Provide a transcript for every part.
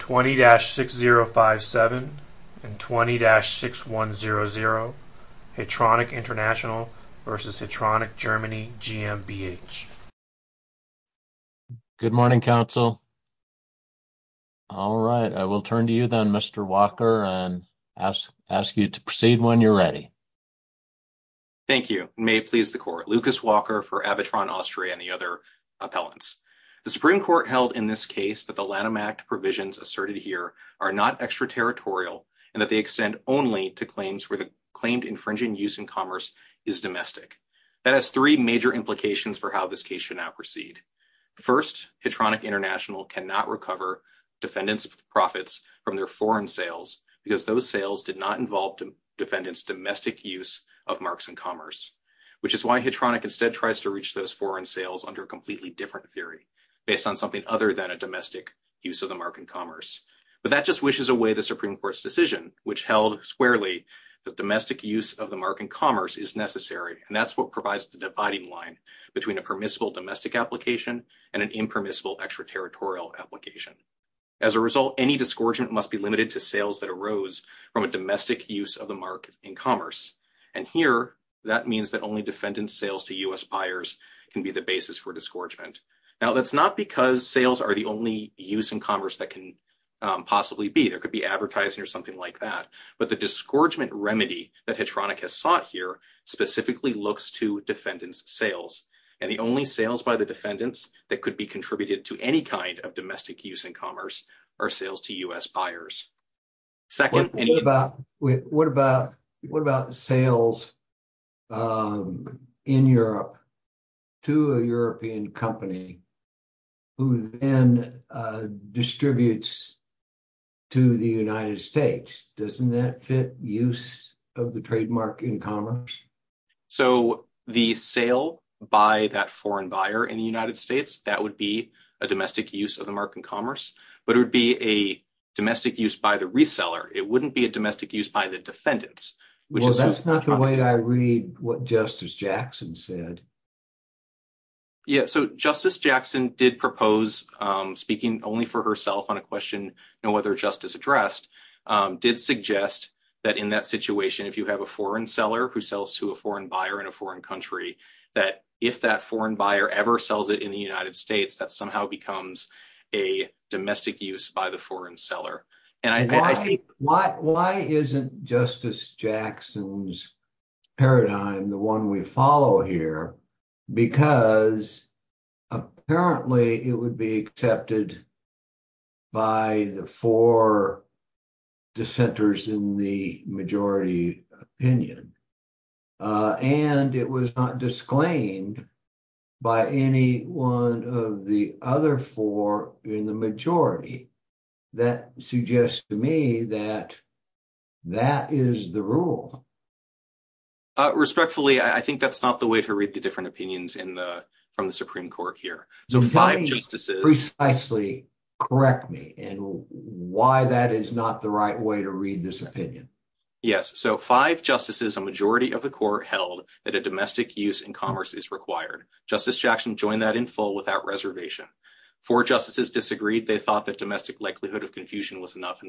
20-6057 and 20-6100 Hetronic International v. Hetronic Germany GmbH Good morning, counsel. All right, I will turn to you then, Mr. Walker, and ask you to proceed when you're ready. Thank you. May it please the court. Lucas Walker for Abitron Austria and the are not extraterritorial and that they extend only to claims where the claimed infringing use in commerce is domestic. That has three major implications for how this case should now proceed. First, Hetronic International cannot recover defendants' profits from their foreign sales because those sales did not involve defendants' domestic use of marks in commerce, which is why Hetronic instead tries to reach those foreign sales under a completely different theory, based on something other than a domestic use of the mark in commerce. But that just wishes away the Supreme Court's decision, which held squarely that domestic use of the mark in commerce is necessary, and that's what provides the dividing line between a permissible domestic application and an impermissible extraterritorial application. As a result, any disgorgement must be limited to sales that arose from a domestic use of the mark in commerce, and here that means that only sales are the only use in commerce that can possibly be. There could be advertising or something like that, but the disgorgement remedy that Hetronic has sought here specifically looks to defendants' sales, and the only sales by the defendants that could be contributed to any kind of domestic use in commerce are sales to U.S. buyers. What about sales in Europe to a European company, who then distributes to the United States? Doesn't that fit use of the trademark in commerce? So the sale by that foreign buyer in the United States, that would be a domestic use of the mark in commerce, but it would be a domestic use by the reseller. It wouldn't be a domestic use by the defendants. Well, that's not the way I read what Justice Jackson said. Yeah, so Justice Jackson did propose, speaking only for herself on a question, no other justice addressed, did suggest that in that situation, if you have a foreign seller who sells to a foreign buyer in a foreign country, that if that foreign buyer ever sells it in the United States, that somehow becomes a domestic use by the foreign seller. And I think- Because apparently it would be accepted by the four dissenters in the majority opinion, and it was not disclaimed by any one of the other four in the majority. That suggests to me that that is the rule. Respectfully, I think that's not the way to read the different opinions in the, from the Supreme Court here. So five justices- Precisely correct me in why that is not the right way to read this opinion. Yes. So five justices, a majority of the court held that a domestic use in commerce is required. Justice Jackson joined that in full without reservation. Four justices disagreed. They thought that domestic likelihood of confusion was enough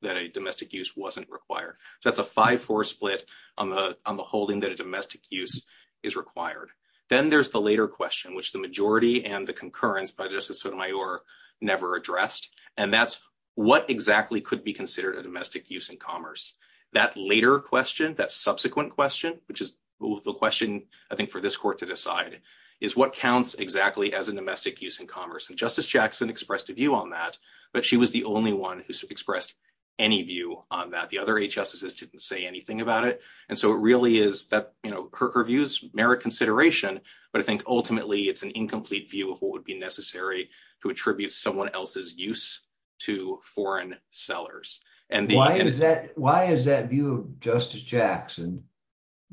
that a domestic use wasn't required. So that's a 5-4 split on the holding that a domestic use is required. Then there's the later question, which the majority and the concurrence by Justice Sotomayor never addressed, and that's what exactly could be considered a domestic use in commerce? That later question, that subsequent question, which is the question, I think, for this court to decide, is what counts exactly as a domestic use in commerce? And Justice Jackson expressed a view on that, but she was the only one who expressed any view on that. The other eight justices didn't say anything about it. And so it really is that, you know, her views merit consideration, but I think ultimately it's an incomplete view of what would be necessary to attribute someone else's use to foreign sellers. Why is that view of Justice Jackson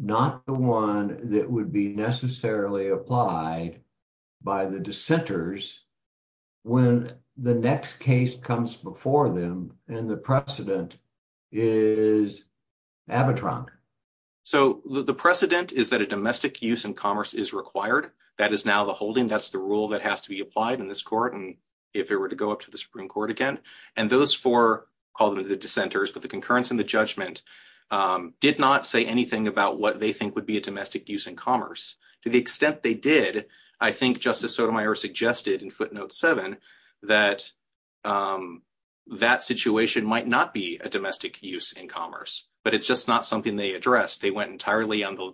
not the one that would be necessarily applied by the dissenters when the next case comes before them and the precedent is abetron? So the precedent is that a domestic use in commerce is required. That is now the holding. That's the rule that has to be applied in this court, and if it were to go up to the Supreme Court again. And those four, call them the dissenters, but the concurrence and the judgment did not say anything about what they think would be a domestic use in commerce. To the extent they did, I think Justice Sotomayor suggested in footnote 7 that that situation might not be a domestic use in commerce, but it's just not something they addressed. They went entirely on the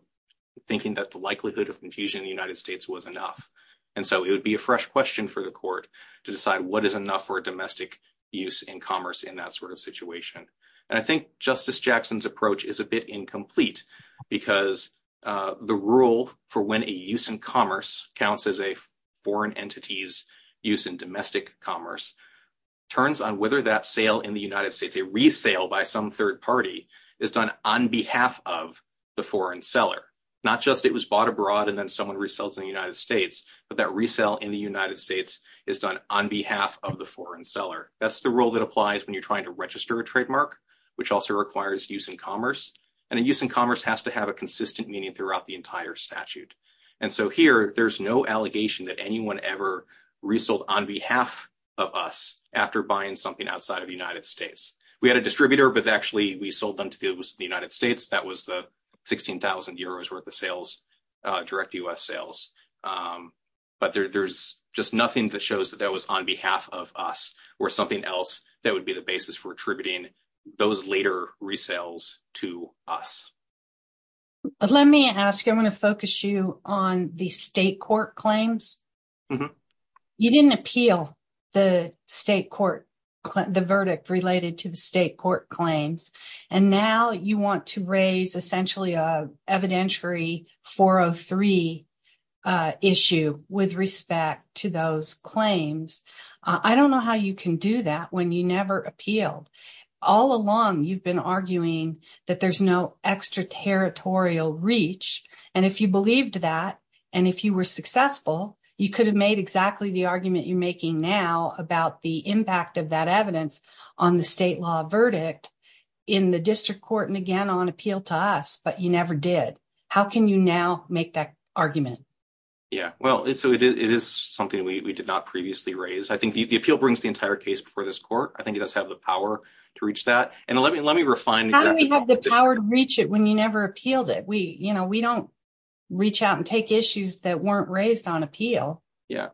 thinking that the likelihood of infusion in the United States was enough. And so it would be a fresh question for the court to decide what is enough for a domestic use in commerce. I think Justice Jackson's approach is a bit incomplete because the rule for when a use in commerce counts as a foreign entity's use in domestic commerce turns on whether that sale in the United States, a resale by some third party, is done on behalf of the foreign seller. Not just it was bought abroad and then someone resells in the United States, but that resale in the United States is done on behalf of the foreign seller. That's the rule that applies when you're trying to register a trademark, which also requires use in commerce. And a use in commerce has to have a consistent meaning throughout the entire statute. And so here there's no allegation that anyone ever resold on behalf of us after buying something outside of the United States. We had a distributor, but actually we sold them to the United States. That was the 16,000 euros worth of sales, direct U.S. sales. But there's just nothing that shows that that was on behalf of us or something else that would be the basis for attributing those later resales to us. Let me ask, I want to focus you on the state court claims. You didn't appeal the state court, the verdict related to the state court claims, and now you want to raise essentially a evidentiary 403 issue with respect to those claims. I don't know how you can do that when you never appealed. All along you've been arguing that there's no extraterritorial reach. And if you believed that, and if you were successful, you could have made exactly the argument you're making now about the impact of that evidence on the state law verdict in the district court and again on appeal to us, but you never did. How can you now make that argument? It is something we did not previously raise. I think the appeal brings the entire case before this court. I think it does have the power to reach that. How do we have the power to reach it when you never appealed it? We don't reach out and take issues that weren't raised on appeal. A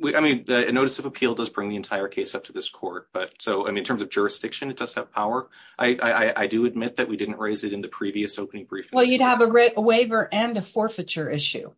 notice of appeal does bring the entire case up to this court. In terms of jurisdiction, it does have power. I do admit we didn't raise it in the previous opening briefing. You'd have a waiver and a forfeiture issue.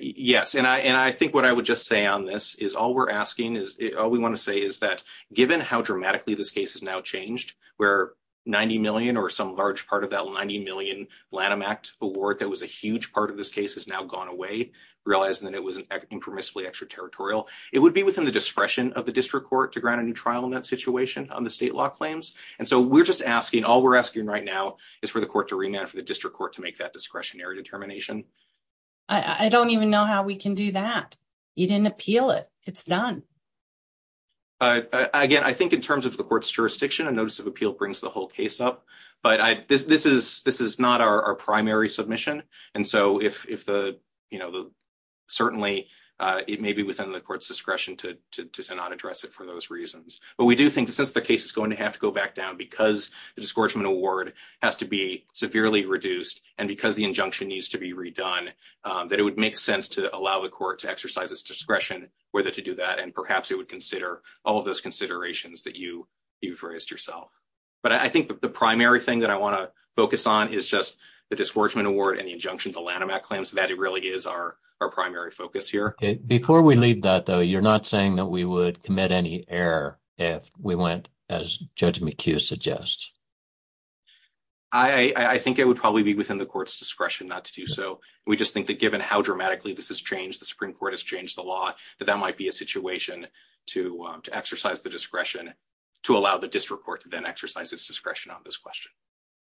Yes. And I think what I would just say on this is all we're asking is, all we want to say is that given how dramatically this case has now changed, where 90 million or some large part of that 90 million Lanham Act award that was a huge part of this case has now gone away, realizing that it was impermissibly extraterritorial, it would be within the discretion of the district court to grant a new trial in that situation on the state law claims. And so we're just asking, all we're asking right now is for the court to remand for the district court to make that discretionary determination. I don't even know how we can do that. You didn't appeal it. It's done. Again, I think in terms of the court's jurisdiction, a notice of appeal brings the whole case up. But this is not our primary submission. And so certainly, it may be within the court's discretion to not address it for those reasons. But we do think since the case is going to have to go back down because the discouragement award has to be severely reduced and because the injunction needs to be redone, that it would make sense to allow the court to exercise its discretion whether to do that. And perhaps it would consider all of those considerations that you've raised yourself. But I think the primary thing that I want to focus on is just the discouragement award and the injunction to Lanham Act claims. That really is our primary focus here. Before we leave that, though, you're not saying that we would commit any error if we went as Judge McHugh suggests. I think it would probably be within the court's discretion not to do so. We just think that given how dramatically this has changed, the Supreme Court has changed the law, that that might be a situation to exercise the discretion to allow the district court to then exercise its discretion on this question.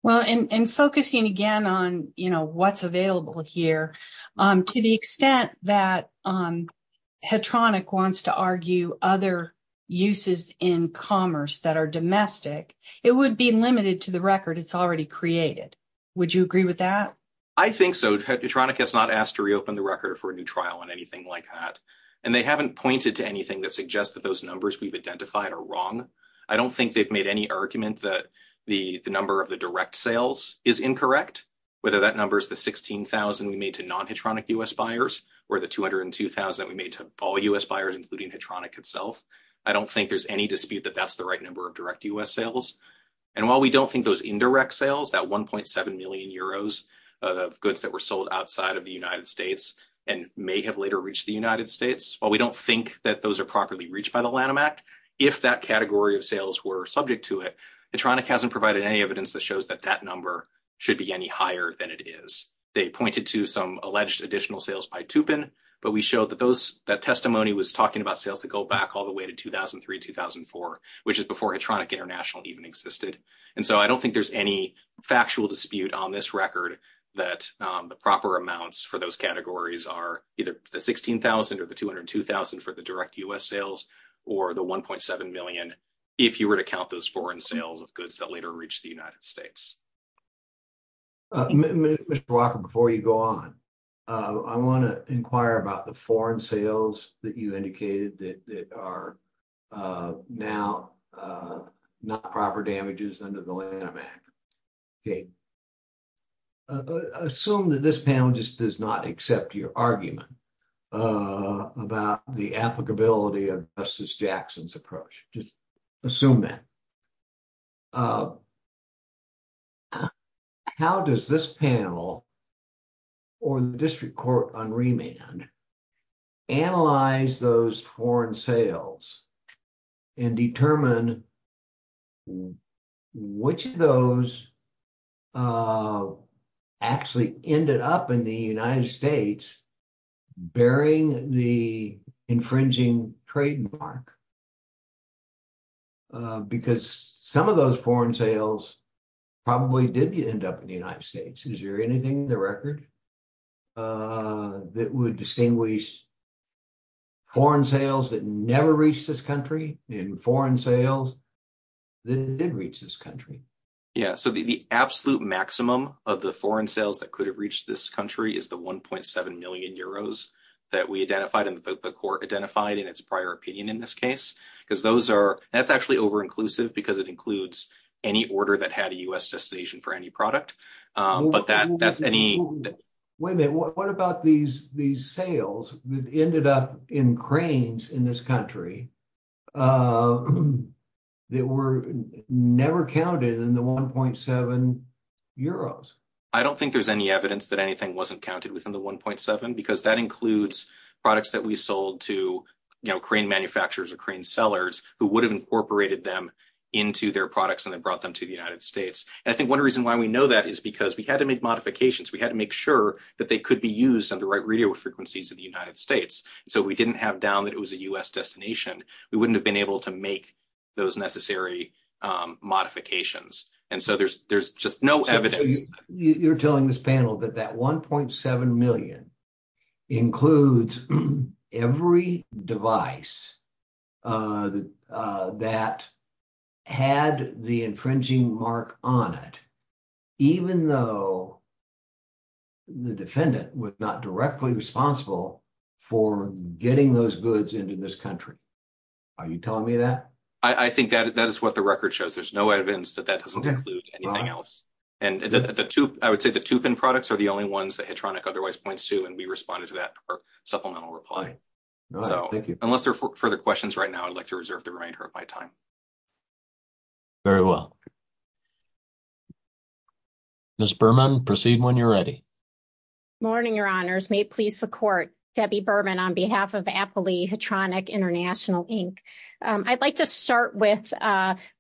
Well, and focusing again on what's here, to the extent that Hedtronic wants to argue other uses in commerce that are domestic, it would be limited to the record it's already created. Would you agree with that? I think so. Hedtronic has not asked to reopen the record for a new trial on anything like that. And they haven't pointed to anything that suggests that those numbers we've identified are wrong. I don't think they've made any argument that the number of the direct sales is incorrect, whether that number is the 16,000 we made to non-Hedtronic U.S. buyers or the 202,000 that we made to all U.S. buyers, including Hedtronic itself. I don't think there's any dispute that that's the right number of direct U.S. sales. And while we don't think those indirect sales, that 1.7 million euros of goods that were sold outside of the United States and may have later reached the United States, while we don't think that those are properly reached by the Lanham Act, if that category of sales were subject to it, Hedtronic hasn't provided any evidence that shows that that number should be any higher than it is. They pointed to some alleged additional sales by Tupin, but we showed that that testimony was talking about sales that go back all the way to 2003-2004, which is before Hedtronic International even existed. And so I don't think there's any factual dispute on this record that the proper amounts for those categories are either the 16,000 or the 202,000 for the direct U.S. sales, or the 1.7 million if you were to count those foreign sales of goods that later reached the United States. I want to inquire about the foreign sales that you indicated that are now not proper damages under the Lanham Act. Assume that this panel just does not accept your argument about the applicability of Justice Jackson's approach. Just assume that. How does this panel or the district court on remand analyze those foreign sales and determine which of those actually ended up in the United States bearing the infringing trademark? Because some of those foreign sales probably did end up in the United States. Is there anything in the record that would distinguish foreign sales that never reached this country and foreign sales that did reach this country? Yeah, so the absolute maximum of the foreign sales that could have reached this country is the 1.7 million euros that we identified that the court identified in its prior opinion in this case. That's actually over-inclusive because it includes any order that had a U.S. destination for any product. Wait a minute, what about these sales that ended up in cranes in this country that were never counted in the 1.7 euros? I don't think there's any evidence that anything wasn't counted within the 1.7 because that includes products that we sold to crane manufacturers or crane sellers who would have incorporated them into their products and then brought them to the United States. And I think one reason why we know that is because we had to make modifications. We had to make sure that they could be used on the right radio frequencies in the United States. So if we didn't have down that it was a U.S. destination, we wouldn't have been able to make those necessary modifications. And includes every device that had the infringing mark on it even though the defendant was not directly responsible for getting those goods into this country. Are you telling me that? I think that is what the record shows. There's no evidence that that doesn't include anything else. And the two, I would say the two pin products are the only ones otherwise points to and we responded to that supplemental reply. So unless there are further questions right now, I'd like to reserve the remainder of my time. Very well. Ms. Berman, proceed when you're ready. Morning, Your Honors. May it please the court. Debbie Berman on behalf of Appley Hedronic International, Inc. I'd like to start with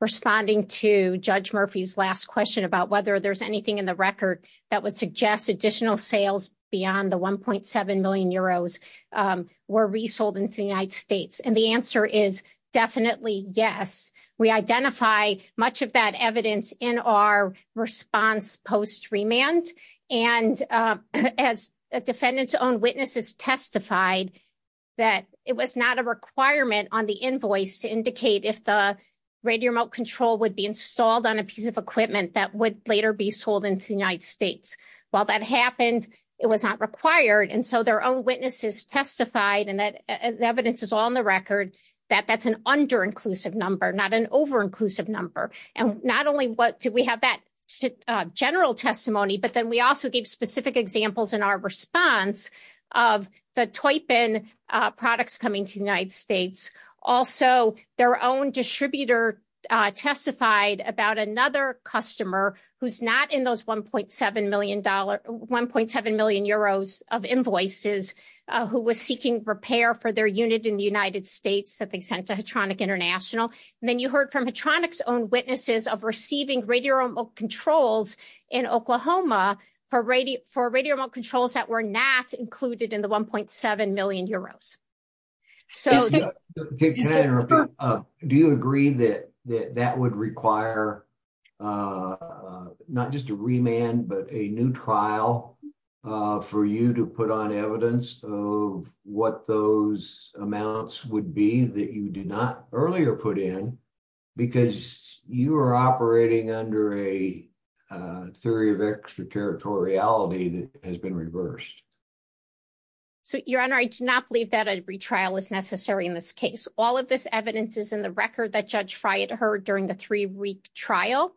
responding to Judge Murphy's last question about whether there's anything in the record that would suggest additional sales beyond the 1.7 million euros were resold into the United States. And the answer is definitely yes. We identify much of that evidence in our response post remand. And as a defendant's own witnesses testified that it was not a requirement on the invoice to indicate if the radio remote control would be installed on a piece of equipment that would later be sold into the United States. While that happened, it was not required. And so their own witnesses testified and that evidence is on the record that that's an under inclusive number, not an over inclusive number. And not only what do we have that general testimony, but then we also gave specific examples in our response of the toy pin products coming to the United States. Also, their own distributor testified about another customer who's not in those 1.7 million euros of invoices who was seeking repair for their unit in the United States that they sent to Hedronic International. And then you heard from Hedronic's own witnesses of receiving radio remote controls in Oklahoma for radio remote So do you agree that that that would require not just a remand, but a new trial for you to put on evidence of what those amounts would be that you did not earlier put in, because you are operating under a theory of extraterritoriality that has been reversed. So, Your Honor, I do not believe that a retrial is necessary in this case. All of this evidence is in the record that Judge Friot heard during the three week trial.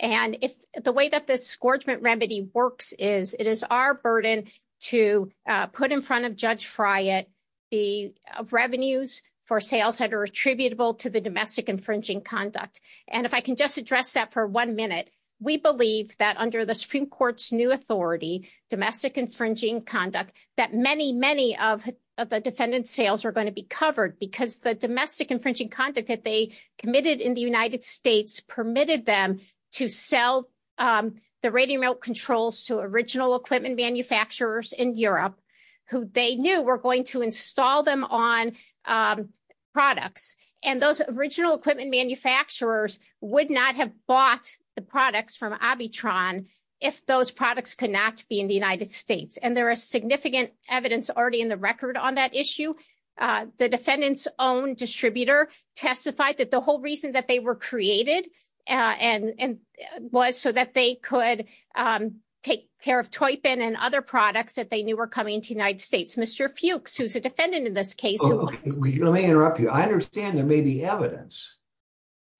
And if the way that this scorchment remedy works is it is our burden to put in front of Judge Friot the revenues for sales that are attributable to the domestic infringing conduct. And if I can just address that for one minute, we believe that under the Supreme Court's new authority, domestic infringing conduct, that many, many of the defendant's sales are going to be covered because the domestic infringing conduct that they committed in the United States permitted them to sell the radio remote controls to original equipment manufacturers in Europe who they knew were going to install them on products. And those original equipment manufacturers would not have bought the products from Abitron if those products could not be in the United States. And there is significant evidence already in the record on that issue. The defendant's own distributor testified that the whole reason that they were created was so that they could take a pair of toy pen and other products that they knew were coming to the United States. Mr. Fuchs, who's a defendant in this case. Let me interrupt you. I understand there may be evidence,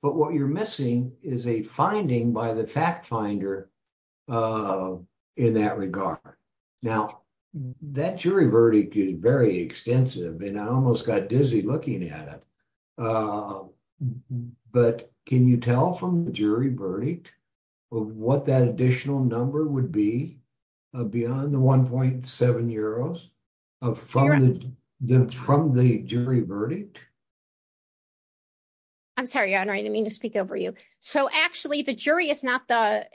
but what you're missing is a finding by the fact finder in that regard. Now, that jury verdict is very extensive and I almost got dizzy looking at it. But can you tell from the jury verdict of what that additional number would be beyond the 1.7 euros from the jury verdict? I'm sorry, Your Honor. I didn't mean to speak over you. So, actually, the jury is not the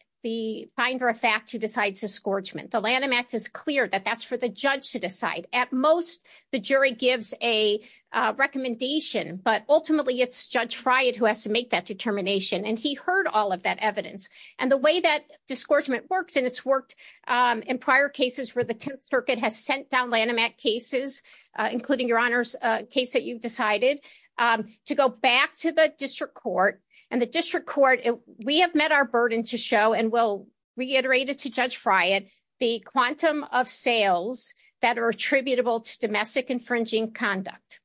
finder of fact who decides escorgement. The Lanham Act is clear that that's for the judge to decide. At most, the jury gives a recommendation, but ultimately, it's Judge Fried who has to make that determination. And he heard all of that evidence. And the way that escorgement works, and it's worked in prior cases where the Tenth Circuit has sent down Lanham Act cases, including Your Honor's case that you've decided, to go back to the district court. And the district court, we have met our burden to show, and we'll reiterate it to Judge Fried, the quantum of sales that are attributable to domestic infringing conduct.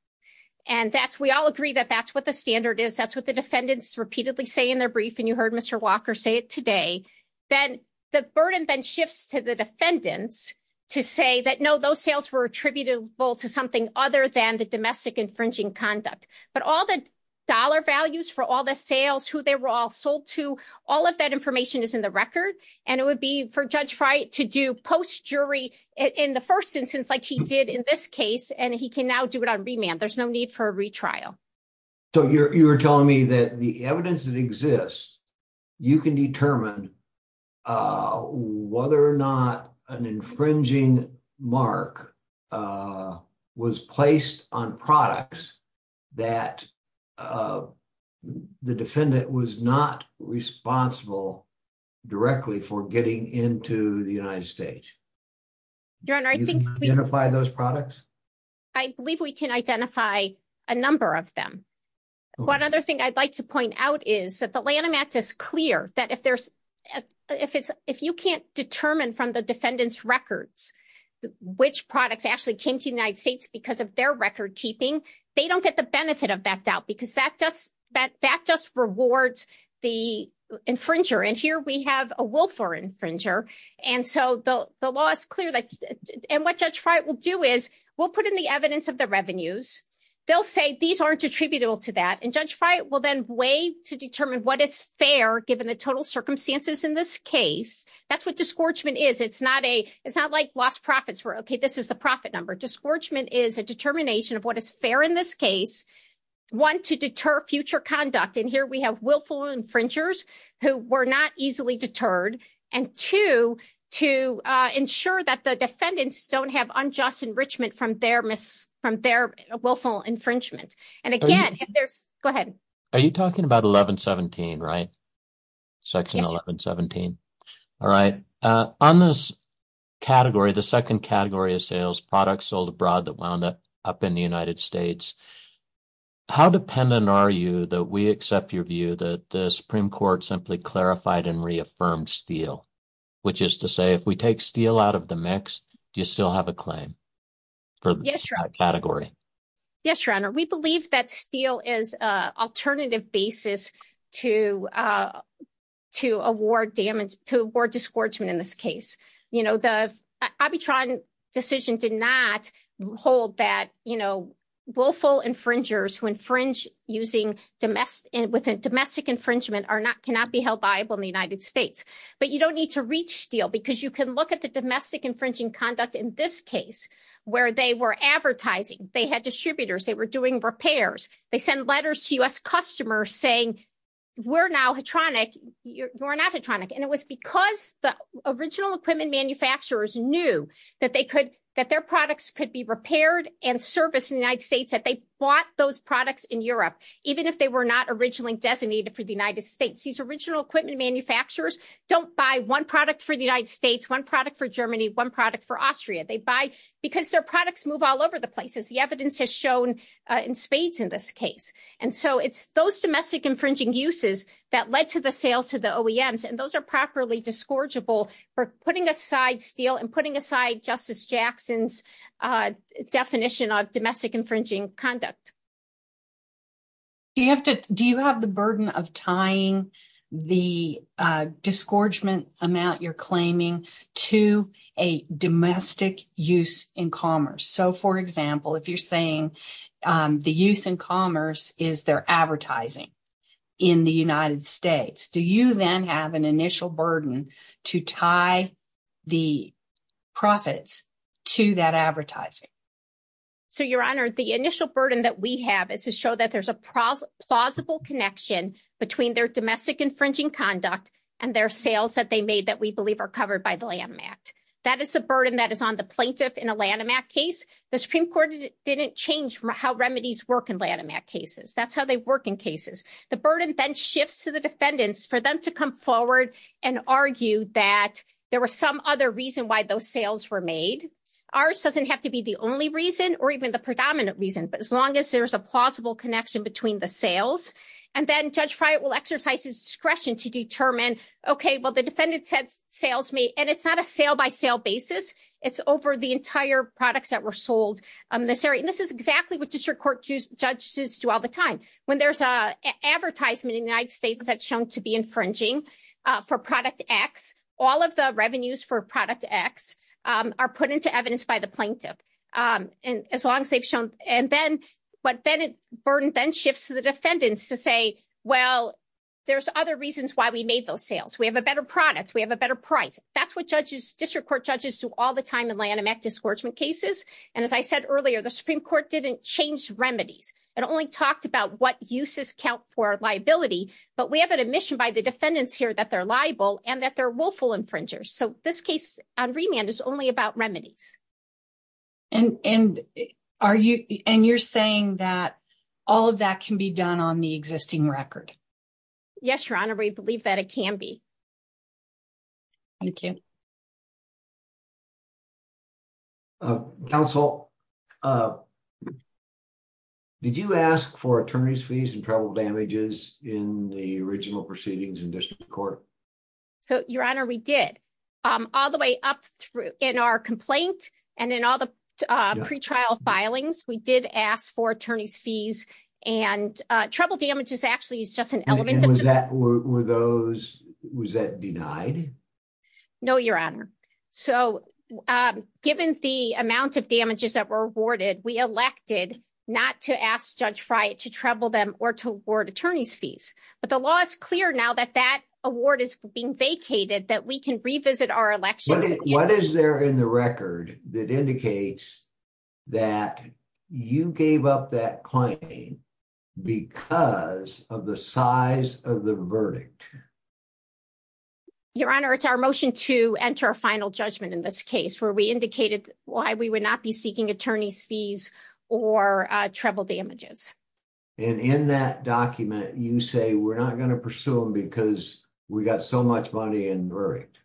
And we all agree that that's what the standard is. That's what the defendants repeatedly say in their brief, and you heard Mr. Walker say it today. Then the burden then shifts to the defendants to say that, no, those sales were attributable to something other than the domestic infringing conduct. But all the dollar values for all the sales, who they were all sold to, all of that information is in the record. And it would be for Judge Fried to do post-jury in the first instance, like he did in this case, and he can now do it on remand. There's no need for a retrial. So, you're telling me that the evidence that was placed on products, that the defendant was not responsible directly for getting into the United States? Your Honor, I think... Can you identify those products? I believe we can identify a number of them. One other thing I'd like to point out is that the Lanham Act is clear, that if there's, if it's, if you can't determine from the defendant's records which products actually came to the United States because of their record keeping, they don't get the benefit of that doubt because that just rewards the infringer. And here we have a willful infringer. And so, the law is clear. And what Judge Fried will do is, we'll put in the evidence of the revenues. They'll say, these aren't attributable to that. And Judge Fried will then weigh to determine what is fair given the total circumstances in this case. That's what disgorgement is. It's not a, lost profits, where, okay, this is the profit number. Disgorgement is a determination of what is fair in this case. One, to deter future conduct. And here we have willful infringers who were not easily deterred. And two, to ensure that the defendants don't have unjust enrichment from their willful infringement. And again, if there's... Go ahead. Are you talking about 1117, right? Section 1117. All right. On this category, the second category of sales, products sold abroad that wound up in the United States, how dependent are you that we accept your view that the Supreme Court simply clarified and reaffirmed Steele? Which is to say, if we take Steele out of the mix, do you still have a claim for that category? Yes, Your Honor. We believe that Steele is an alternative basis to award damage, to award disgorgement in this case. You know, the Abitron decision did not hold that, you know, willful infringers who infringe using domestic, with a domestic infringement are not, cannot be held viable in the United States. But you don't need to reach Steele because you can look at the domestic infringing conduct in this case, where they were advertising, they had distributors, they were doing repairs. They send letters to US customers saying, we're now HATRONIC, you're not HATRONIC. And it was because the original equipment manufacturers knew that they could, that their products could be repaired and serviced in the United States, that they bought those products in Europe, even if they were not originally designated for the United States. These original equipment manufacturers don't buy one product for the United States, one product for Germany, one product for Austria. They buy because their products move all over the places. The evidence has shown in spades in this case. And so it's those domestic infringing uses that led to the sales to the OEMs. And those are properly disgorgeable for putting aside Steele and putting aside Justice Jackson's definition of domestic infringing conduct. Do you have to, of tying the disgorgement amount you're claiming to a domestic use in commerce? So for example, if you're saying the use in commerce is their advertising in the United States, do you then have an initial burden to tie the profits to that advertising? So your honor, the initial burden that we have is to show that there's a plausible connection between their domestic infringing conduct and their sales that they made that we believe are covered by the Lanham Act. That is the burden that is on the plaintiff in a Lanham Act case. The Supreme Court didn't change how remedies work in Lanham Act cases. That's how they work in cases. The burden then shifts to the defendants for them to come forward and argue that there was some other reason why those sales were made. Ours doesn't have to be the only reason or even the predominant reason, but as long as there's a plausible connection between the sales. And then Judge Friot will exercise his discretion to determine, okay, well, the defendant said sales may, and it's not a sale by sale basis. It's over the entire products that were sold in this area. And this is exactly what district court judges do all the time. When there's a advertisement in the United States that's shown to be infringing for product X, all of the revenues for product X are put into evidence by the plaintiff. And as long as they've shown, and then, but then it burden then shifts to the defendants to say, well, there's other reasons why we made those sales. We have a better product. We have a better price. That's what judges, district court judges do all the time in Lanham Act discouragement cases. And as I said earlier, the Supreme Court didn't change remedies. It only talked about what uses count for liability, but we have an admission by the defendants here that they're liable and that they're willful infringers. So this case on remand is only about remedies. And, and are you, and you're saying that all of that can be done on the existing record? Yes, Your Honor, we believe that it can be. Thank you. Counsel, did you ask for attorney's fees and travel damages in the original proceedings in district court? So Your Honor, we did all the way up through in our complaint and in all the pretrial filings, we did ask for attorney's fees and trouble damages actually is just an element of those. Was that denied? No, Your Honor. So given the amount of damages that were awarded, we elected not to ask judge Fry to trouble them or to award attorney's fees. But the law is clear now that that award is being vacated, that we can revisit our elections. What is there in the record that indicates that you gave up that claim because of the size of the verdict? Your Honor, it's our motion to enter a final judgment in this case where we indicated why we would not be seeking attorney's fees or trouble damages. And in that document, you say we're not going to pursue them because we got so much money and verdict.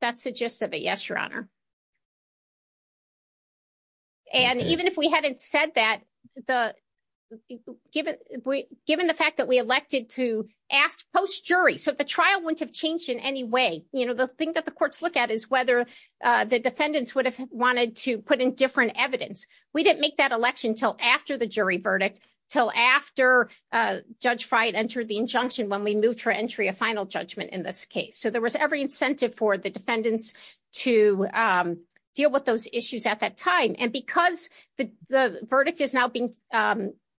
That's the gist of it. Yes, Your Honor. And even if we hadn't said that, given the fact that we elected to ask post jury, so the trial wouldn't have changed in any way. The thing that the courts look at is whether the defendants would have wanted to put in different evidence. We didn't make that election until after the jury verdict, until after Judge Fry entered the injunction when we moved for entry a final judgment in this case. So there was every incentive for the defendants to deal with those issues at that time. And because the verdict is now being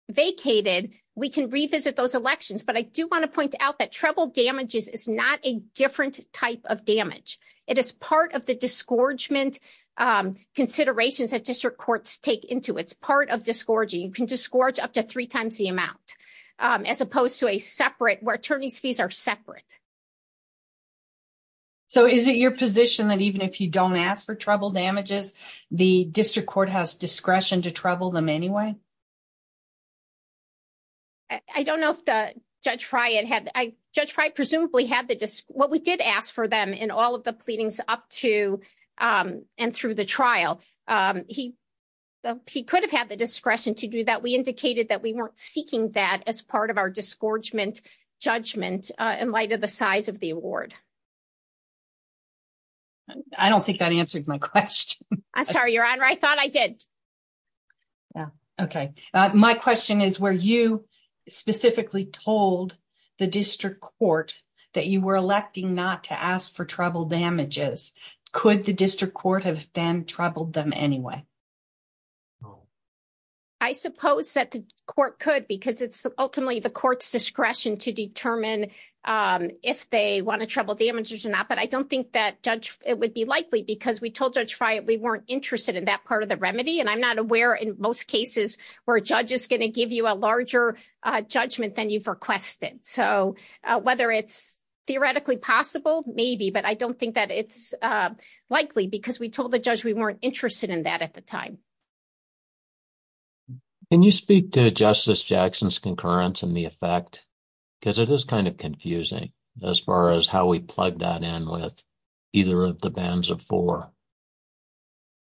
vacated, we can revisit those elections. But I do want to point out that trouble damages is not a different type of damage. It is part of disgorgement considerations that district courts take into it. It's part of disgorging. You can disgorge up to three times the amount, as opposed to a separate where attorney's fees are separate. So is it your position that even if you don't ask for trouble damages, the district court has discretion to trouble them anyway? I don't know if Judge Fry presumably had the... What we did ask for them in all of the pleadings up to and through the trial. He could have had the discretion to do that. We indicated that we weren't seeking that as part of our disgorgement judgment in light of the size of the award. I don't think that answered my question. I'm sorry, Your Honor. I thought I did. Yeah. Okay. My question is where you specifically told the district court that you were electing not to ask for trouble damages. Could the district court have then troubled them anyway? I suppose that the court could because it's ultimately the court's discretion to determine if they want to trouble damages or not. But I don't think that it would be likely because we told Judge Fry we weren't interested in that part of the remedy. And I'm not aware in most cases where a judge is going to give you a larger judgment than you've requested. So whether it's maybe, but I don't think that it's likely because we told the judge we weren't interested in that at the time. Can you speak to Justice Jackson's concurrence and the effect? Because it is kind of confusing as far as how we plug that in with either of the bans of four.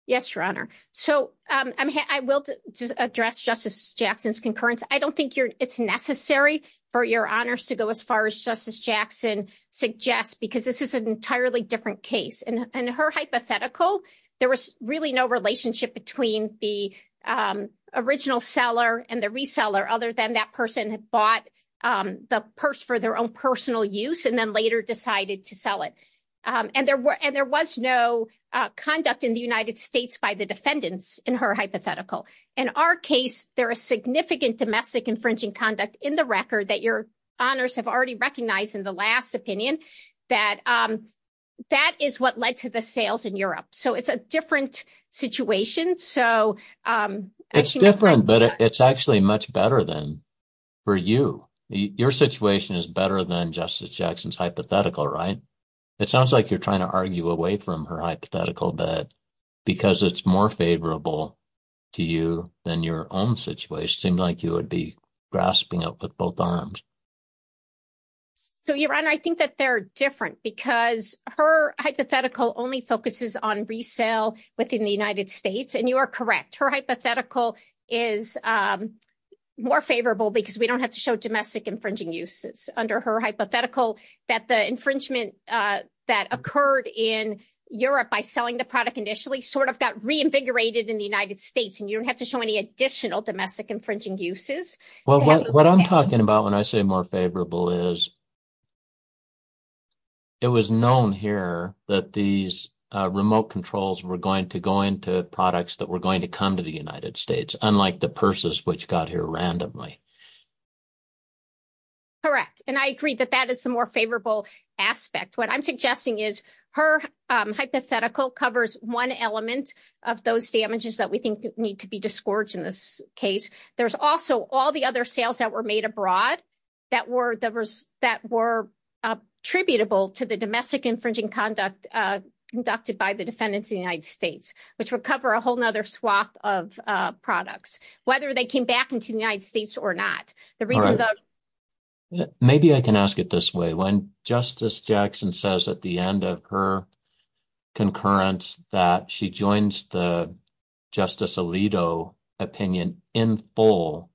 Yes, Your Honor. So I will address Justice Jackson's concurrence. I don't think it's necessary for Your Honor to go as far as Justice Jackson suggests because this is an entirely different case. In her hypothetical, there was really no relationship between the original seller and the reseller other than that person had bought the purse for their own personal use and then later decided to sell it. And there was no conduct in the United States by the defendants in her hypothetical. In our case, there is significant domestic infringing conduct in the record that Your Honors have already recognized in the last opinion that that is what led to the sales in Europe. So it's a different situation. It's different, but it's actually much better than for you. Your situation is better than Justice Jackson's hypothetical, right? It sounds like you're trying to argue away from her hypothetical that because it's more favorable to you than your own situation seemed like you would be grasping up with both arms. So Your Honor, I think that they're different because her hypothetical only focuses on resale within the United States and you are correct. Her hypothetical is more favorable because we don't have to show domestic infringing uses under her hypothetical that the infringement that occurred in Europe by selling the product initially sort of got reinvigorated in the United States and you don't have to show any additional domestic infringing uses. Well, what I'm talking about when I say more favorable is it was known here that these remote controls were going to go into products that were going to come to the United States, unlike the purses which got here randomly. Correct, and I agree that that is the more favorable aspect. What I'm suggesting is her hypothetical covers one element of those damages that we think need to be disgorged in this case. There's also all the other sales that were made abroad that were attributable to the domestic infringing conduct conducted by the defendants in the United States, which would cover a whole other swap of products, whether they came back into the United States or not. Maybe I can ask it this way. When Justice Jackson says at the end of her concurrence that she joins the Justice Alito opinion in full,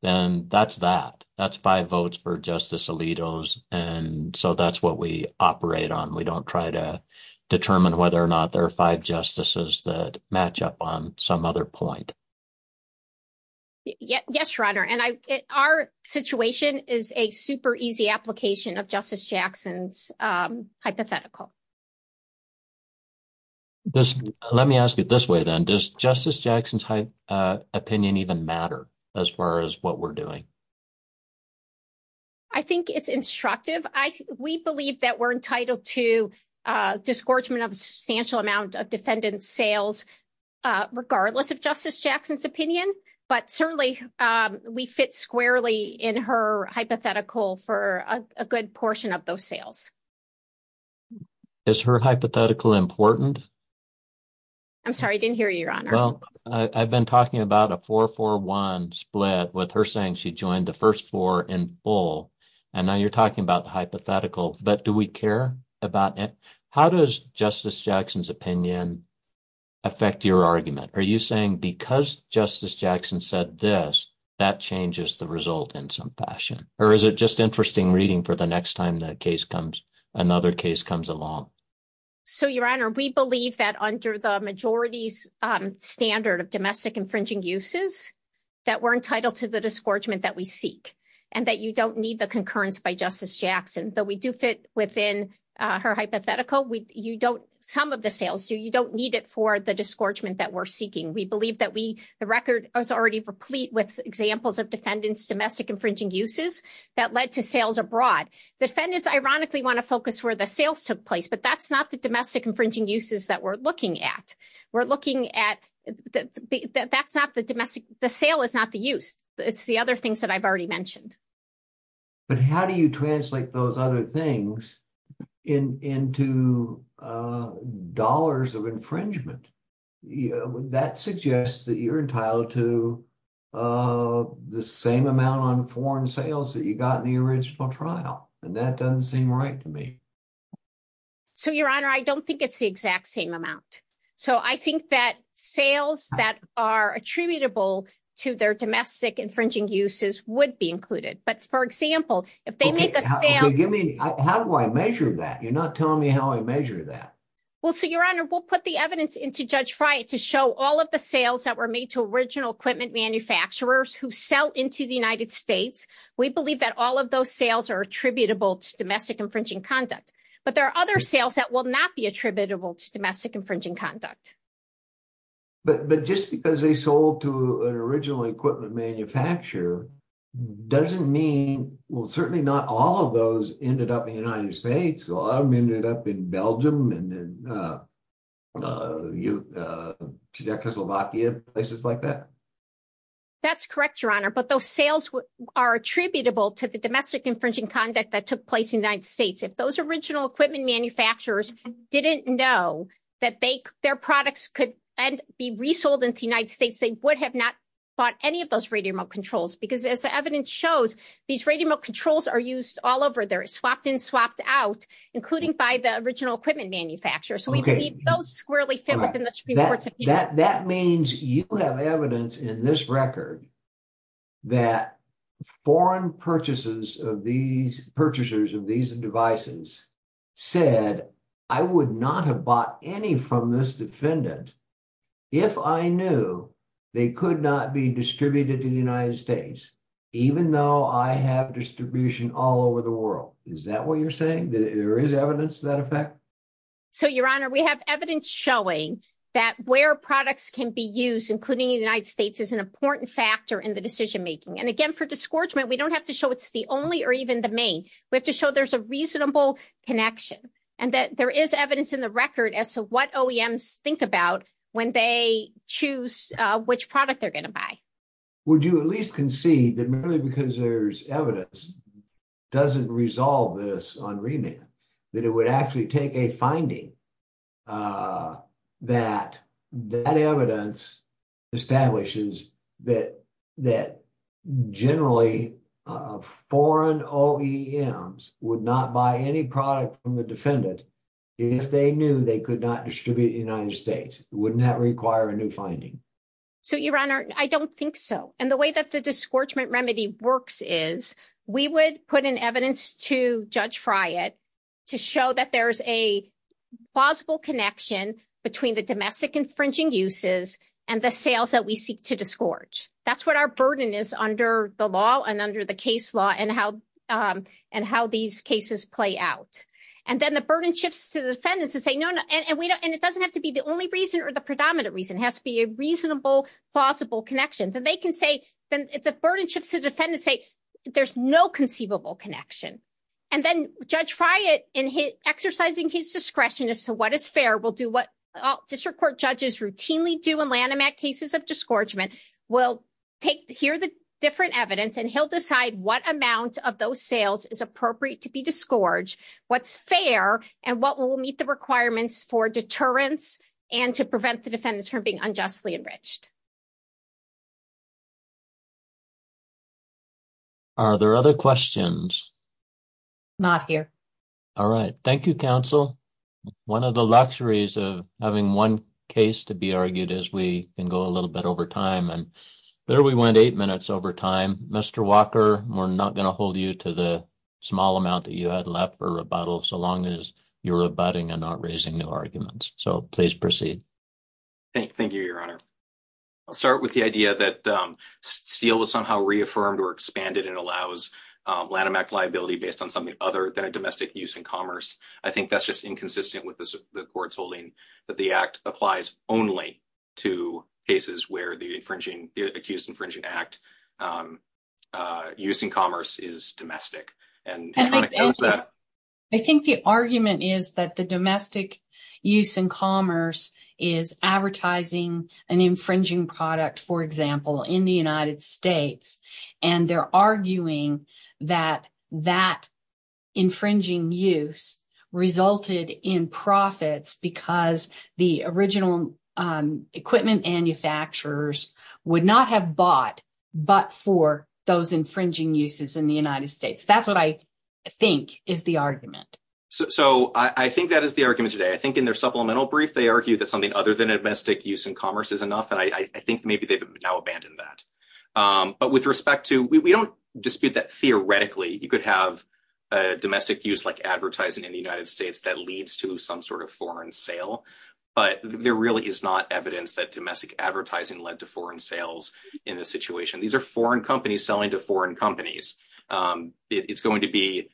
then that's that. That's five votes for Justice Alito's and so that's what we operate on. We don't try to determine whether or not there are five justices that match up on some other point. Yes, Your Honor, and our situation is a super easy application of Justice Jackson's hypothetical. Let me ask it this way then. Does Justice Jackson's opinion even matter as far as what we're doing? I think it's instructive. We believe that we're making sales regardless of Justice Jackson's opinion, but certainly we fit squarely in her hypothetical for a good portion of those sales. Is her hypothetical important? I'm sorry, I didn't hear you, Your Honor. Well, I've been talking about a 4-4-1 split with her saying she joined the first four in full, and now you're talking about the hypothetical, but do we care about it? How does Justice Jackson's opinion affect your argument? Are you saying because Justice Jackson said this, that changes the result in some fashion, or is it just interesting reading for the next time another case comes along? So, Your Honor, we believe that under the majority's standard of domestic infringing uses that we're entitled to the within her hypothetical. Some of the sales, you don't need it for the disgorgement that we're seeking. We believe that the record is already replete with examples of defendants' domestic infringing uses that led to sales abroad. Defendants ironically want to focus where the sales took place, but that's not the domestic infringing uses that we're looking at. The sale is not the use. It's the other things that I've already mentioned. But how do you translate those other things into dollars of infringement? That suggests that you're entitled to the same amount on foreign sales that you got in the original trial, and that doesn't seem right to me. So, Your Honor, I don't think it's the exact same amount. So, I think that domestic infringing uses would be included. But, for example, if they make a sale... How do I measure that? You're not telling me how I measure that. Well, so, Your Honor, we'll put the evidence into Judge Friant to show all of the sales that were made to original equipment manufacturers who sell into the United States. We believe that all of those sales are attributable to domestic infringing conduct. But there are other sales that will not be attributable to domestic infringing conduct. But just because they sold to an original equipment manufacturer doesn't mean... Well, certainly not all of those ended up in the United States. A lot of them ended up in Belgium and Czechoslovakia, places like that. That's correct, Your Honor. But those sales are attributable to the domestic infringing conduct that took place in the United States. If those original equipment manufacturers didn't know that their products could be resold in the United States, they would have not bought any of those radio remote controls. Because as the evidence shows, these radio remote controls are used all over. They're swapped in, swapped out, including by the original equipment manufacturers. So, we believe those squarely fit within the Supreme Court's opinion. That means you have evidence in this record that foreign purchasers of these devices said, I would not have bought any from this defendant if I knew they could not be distributed in the United States, even though I have distribution all over the world. Is that what you're saying? There is evidence to that effect? So, Your Honor, we have evidence showing that where products can be used, including in the United States, is an important factor in the decision making. And again, for disgorgement, we don't have to show it's the only or even the main. We have to show there's a reasonable connection and that there is evidence in the record as to what OEMs think about when they choose which product they're going to buy. Would you at least concede that merely because there's evidence doesn't resolve this on remand, that it would actually take a finding that that evidence establishes that generally foreign OEMs would not buy any product from the defendant if they knew they could not distribute in the United States? Wouldn't that require a new finding? So, Your Honor, I don't think so. And the way that the disgorgement remedy works is we would put in evidence to Judge Friant to show that there's a plausible connection between the domestic infringing uses and the sales that we seek to disgorge. That's what our burden is under the law and under the case law and how these cases play out. And then the burden shifts to the defendants to say, no, no. And it doesn't have to be the only reason or the predominant reason. It has to be a reasonable, plausible connection. Then they can say, then if the burden shifts to defendants, say there's no conceivable connection. And then Judge Friant, in exercising his discretion as to what is fair, will do what will take to hear the different evidence and he'll decide what amount of those sales is appropriate to be disgorged, what's fair, and what will meet the requirements for deterrence and to prevent the defendants from being unjustly enriched. Are there other questions? Not here. All right. Thank you, counsel. One of the luxuries of having one case to be argued is we can go a little bit over time. And there we went eight minutes over time. Mr. Walker, we're not going to hold you to the small amount that you had left for rebuttal so long as you're rebutting and not raising new arguments. So please proceed. Thank you, Your Honor. I'll start with the idea that Steele was somehow reaffirmed or expanded and allows Lanham Act liability based on something other than a domestic use in commerce. I think that's inconsistent with the court's holding that the act applies only to cases where the accused infringing act use in commerce is domestic. I think the argument is that the domestic use in commerce is advertising an infringing product, for example, in the United States. So I think that is the argument today. I think in their supplemental brief, they argue that something other than domestic use in commerce is enough. And I think maybe they've now abandoned that. But with respect to, we don't dispute that theoretically, you could have a domestic use like that leads to some sort of foreign sale. But there really is not evidence that domestic advertising led to foreign sales in this situation. These are foreign companies selling to foreign companies. It's going to be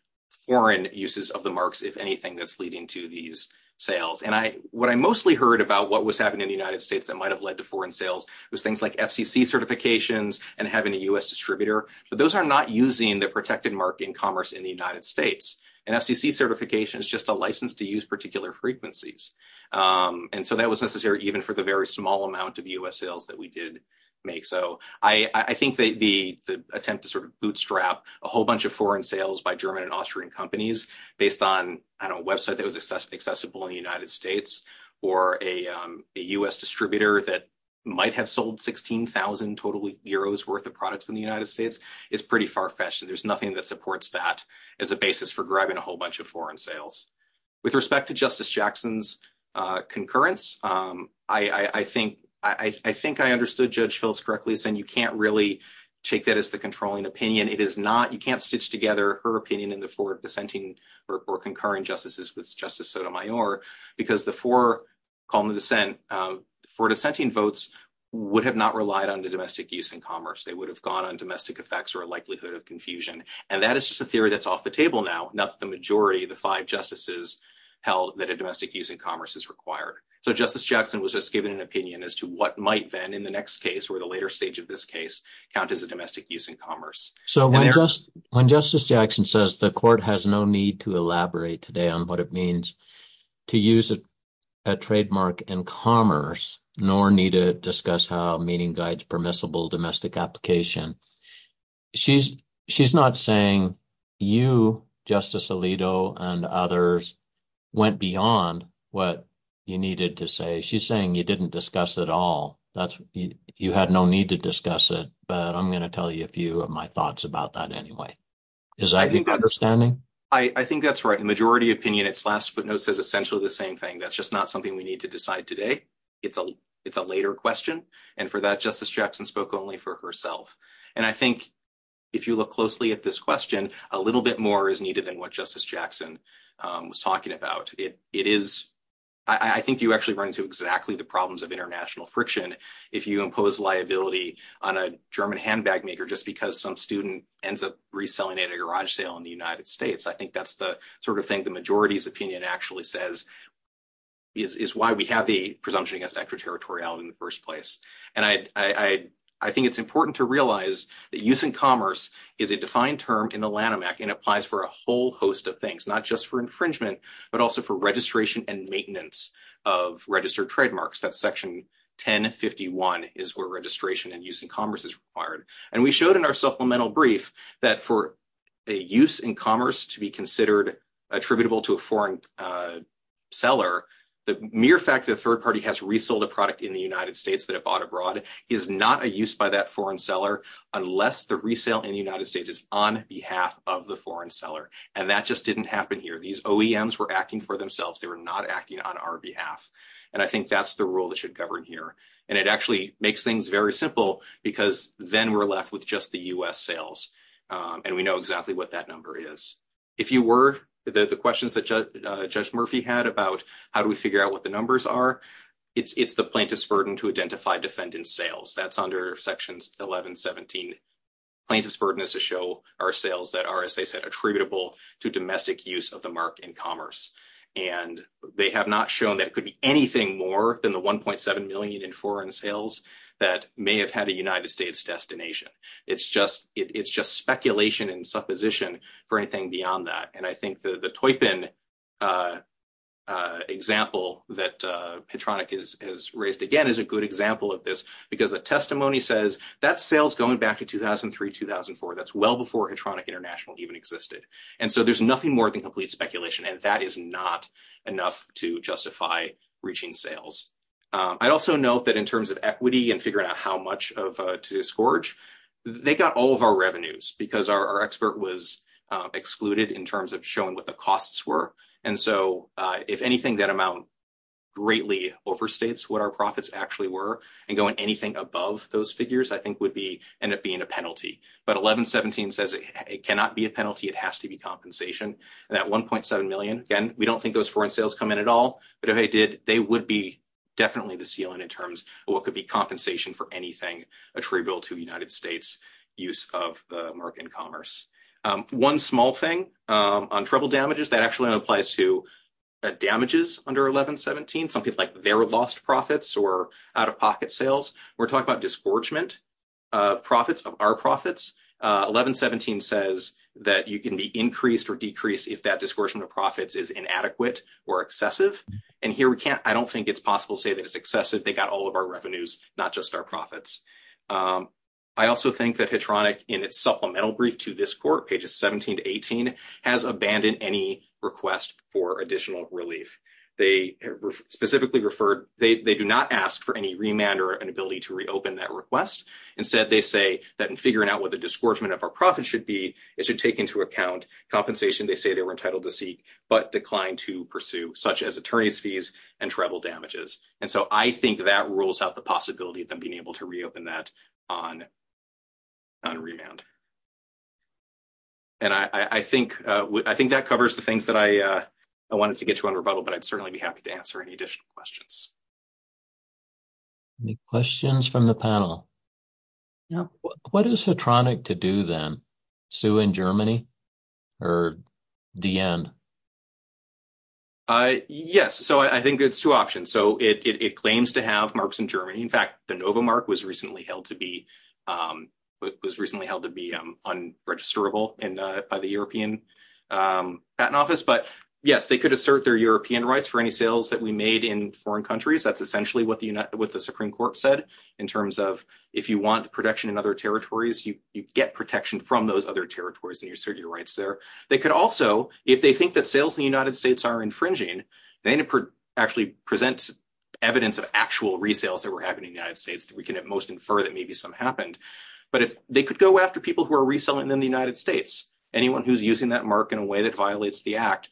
foreign uses of the marks, if anything, that's leading to these sales. And what I mostly heard about what was happening in the United States that might have led to foreign sales was things like FCC certifications and having a U.S. distributor. But those are not using the protected mark in commerce in the United States. And FCC certification is just a license to use particular frequencies. And so that was necessary, even for the very small amount of U.S. sales that we did make. So I think that the attempt to sort of bootstrap a whole bunch of foreign sales by German and Austrian companies based on a website that was accessible in the United States or a U.S. distributor that might have sold 16,000 total euros worth of products in the United States is pretty far fetched. And there's nothing that a whole bunch of foreign sales. With respect to Justice Jackson's concurrence, I think I understood Judge Phillips correctly saying you can't really take that as the controlling opinion. It is not, you can't stitch together her opinion in the floor of dissenting or concurring justices with Justice Sotomayor because the four calling the dissent for dissenting votes would have not relied on the domestic use in commerce. They would have gone on domestic effects or a likelihood of confusion. And that is just a theory that's off the table now. Not the majority of the five justices held that a domestic use in commerce is required. So Justice Jackson was just giving an opinion as to what might then in the next case or the later stage of this case count as a domestic use in commerce. So when Justice Jackson says the court has no need to elaborate today on what it means to use a trademark in commerce, nor need to discuss how a meeting guides permissible domestic application, she's not saying you, Justice Alito, and others went beyond what you needed to say. She's saying you didn't discuss it all. You had no need to discuss it, but I'm going to tell you a few of my thoughts about that anyway. Is that your understanding? I think that's right. The majority opinion, its last footnote, says essentially the same thing. That's just not something we need to decide today. It's a later question. And for that, Justice Jackson spoke only for herself. And I think if you look closely at this question, a little bit more is needed than what Justice Jackson was talking about. I think you actually run into exactly the problems of international friction if you impose liability on a German handbag maker just because some student ends up reselling at a garage sale in the United States. I think that's the sort of thing the majority's opinion actually says is why we have the presumption against extraterritorial in the first place. And I think it's important to realize that use in commerce is a defined term in the Lanham Act and applies for a whole host of things, not just for infringement, but also for registration and maintenance of registered trademarks. That's section 1051 is where registration and use in commerce is required. And we showed in our supplemental brief that for a use in commerce to be considered attributable to a foreign seller, the mere fact that a third party has resold a product in the United States that it bought abroad is not a use by that foreign seller unless the resale in the United States is on behalf of the foreign seller. And that just didn't happen here. These OEMs were acting for themselves. They were not acting on our behalf. And I think that's the rule that should govern here. And it actually makes things very simple because then we're left with just the U.S. sales. And we know exactly what that number is. If you it's the plaintiff's burden to identify defendant sales, that's under sections 1117. Plaintiff's burden is to show our sales that are, as I said, attributable to domestic use of the mark in commerce. And they have not shown that it could be anything more than the 1.7 million in foreign sales that may have had a United States destination. It's just speculation and supposition for anything beyond that. And I think the Toypin example that Petronic has raised again is a good example of this because the testimony says that sales going back to 2003-2004, that's well before Petronic International even existed. And so there's nothing more than complete speculation. And that is not enough to justify reaching sales. I'd also note that in terms of equity and figuring out how because our expert was excluded in terms of showing what the costs were. And so if anything, that amount greatly overstates what our profits actually were. And going anything above those figures, I think, would end up being a penalty. But 1117 says it cannot be a penalty. It has to be compensation. And that 1.7 million, again, we don't think those foreign sales come in at all. But if they did, they would be definitely the ceiling in terms of what could be compensation for anything attributable to the United States use of the market and commerce. One small thing on treble damages, that actually applies to damages under 1117, something like their lost profits or out-of-pocket sales. We're talking about disgorgement of profits, of our profits. 1117 says that you can be increased or decreased if that disgorgement of profits is inadequate or excessive. And here we can't, I don't think it's possible to say that it's excessive. They got all of our revenues, not just our profits. I also think that Hedronic in its supplemental brief to this court, pages 17 to 18, has abandoned any request for additional relief. They specifically referred, they do not ask for any remand or an ability to reopen that request. Instead, they say that in figuring out what the disgorgement of our profits should be, it should take into account compensation they say they were entitled to seek but declined to pursue, such as attorney's fees and treble damages. And so I think that rules out the possibility of them being able to reopen that on remand. And I think that covers the things that I wanted to get you on rebuttal, but I'd certainly be happy to answer any additional questions. Any questions from the panel? Now, what is Hedronic to do then? Sue in Germany or Diend? Yes. So I think there's two options. So it claims to have marks in Germany. In fact, the Nova mark was recently held to be unregisterable by the European patent office. But yes, they could assert their European rights for any sales that we made in foreign countries. That's essentially what the Supreme Court said in terms of if you want protection in other territories, you get protection from those other territories and you assert your rights there. They could also, if they think that sales in the United States are infringing, then it actually presents evidence of actual resales that were happening in the United States that we can at most infer that maybe some happened. But if they could go after people who are reselling in the United States, anyone who's using that mark in a way that violates the act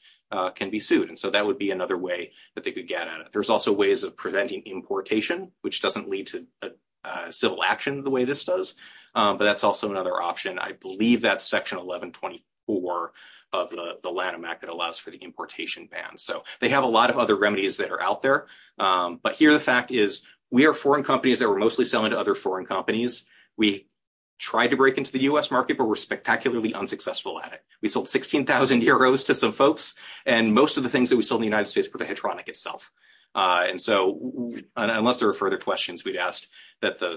can be sued. And so that would be another way that they could get at it. There's also ways of preventing importation, which doesn't lead to civil action the way this does, but that's also another option. I believe that's section 1124 of the Lanham Act that allows for the importation ban. So they have a lot of other remedies that are out there, but here the fact is we are foreign companies that were mostly selling to other foreign companies. We tried to break into the U.S. market, but we're spectacularly unsuccessful at it. We sold 16,000 euros to some folks and most of the things that we sold in the United States were the heteronic itself. And so unless there are further questions, we'd ask that the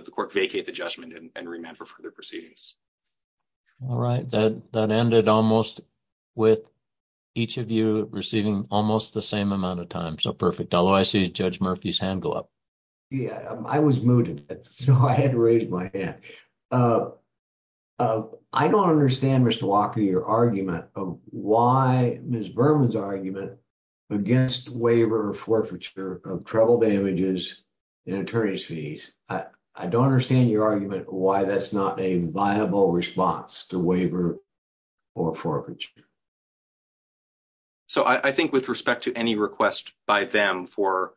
All right. That ended almost with each of you receiving almost the same amount of time. So perfect. Although I see Judge Murphy's hand go up. Yeah, I was mooted, so I had to raise my hand. I don't understand, Mr. Walker, your argument of why Ms. Berman's argument against waiver forfeiture of treble damages and attorney's fees. I don't understand your argument why that's not a viable response to waiver or forfeiture. So I think with respect to any request by them for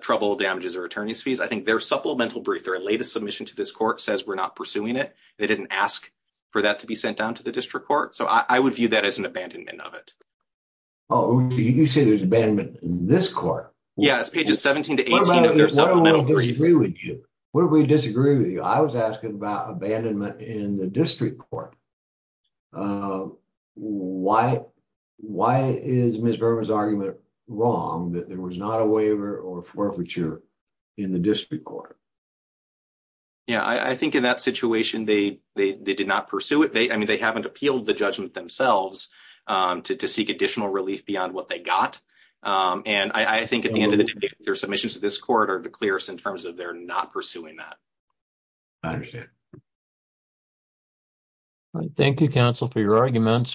treble damages or attorney's fees, I think their supplemental brief, their latest submission to this court says we're not pursuing it. They didn't ask for that to be sent down to the district court. So I would view that as an abandonment of it. Oh, you say there's abandonment in this court? Yeah, it's pages 17 to 18 of their supplemental brief. What if we disagree with you? I was asking about abandonment in the district court. Why is Ms. Berman's argument wrong that there was not a waiver or forfeiture in the district court? Yeah, I think in that situation they did not pursue it. I mean, they haven't appealed the judgment themselves to seek additional relief beyond what they got. And I think at the end of the day, their submissions to this court are the clearest in terms of they're not pursuing that. I understand. All right. Thank you, counsel, for your arguments.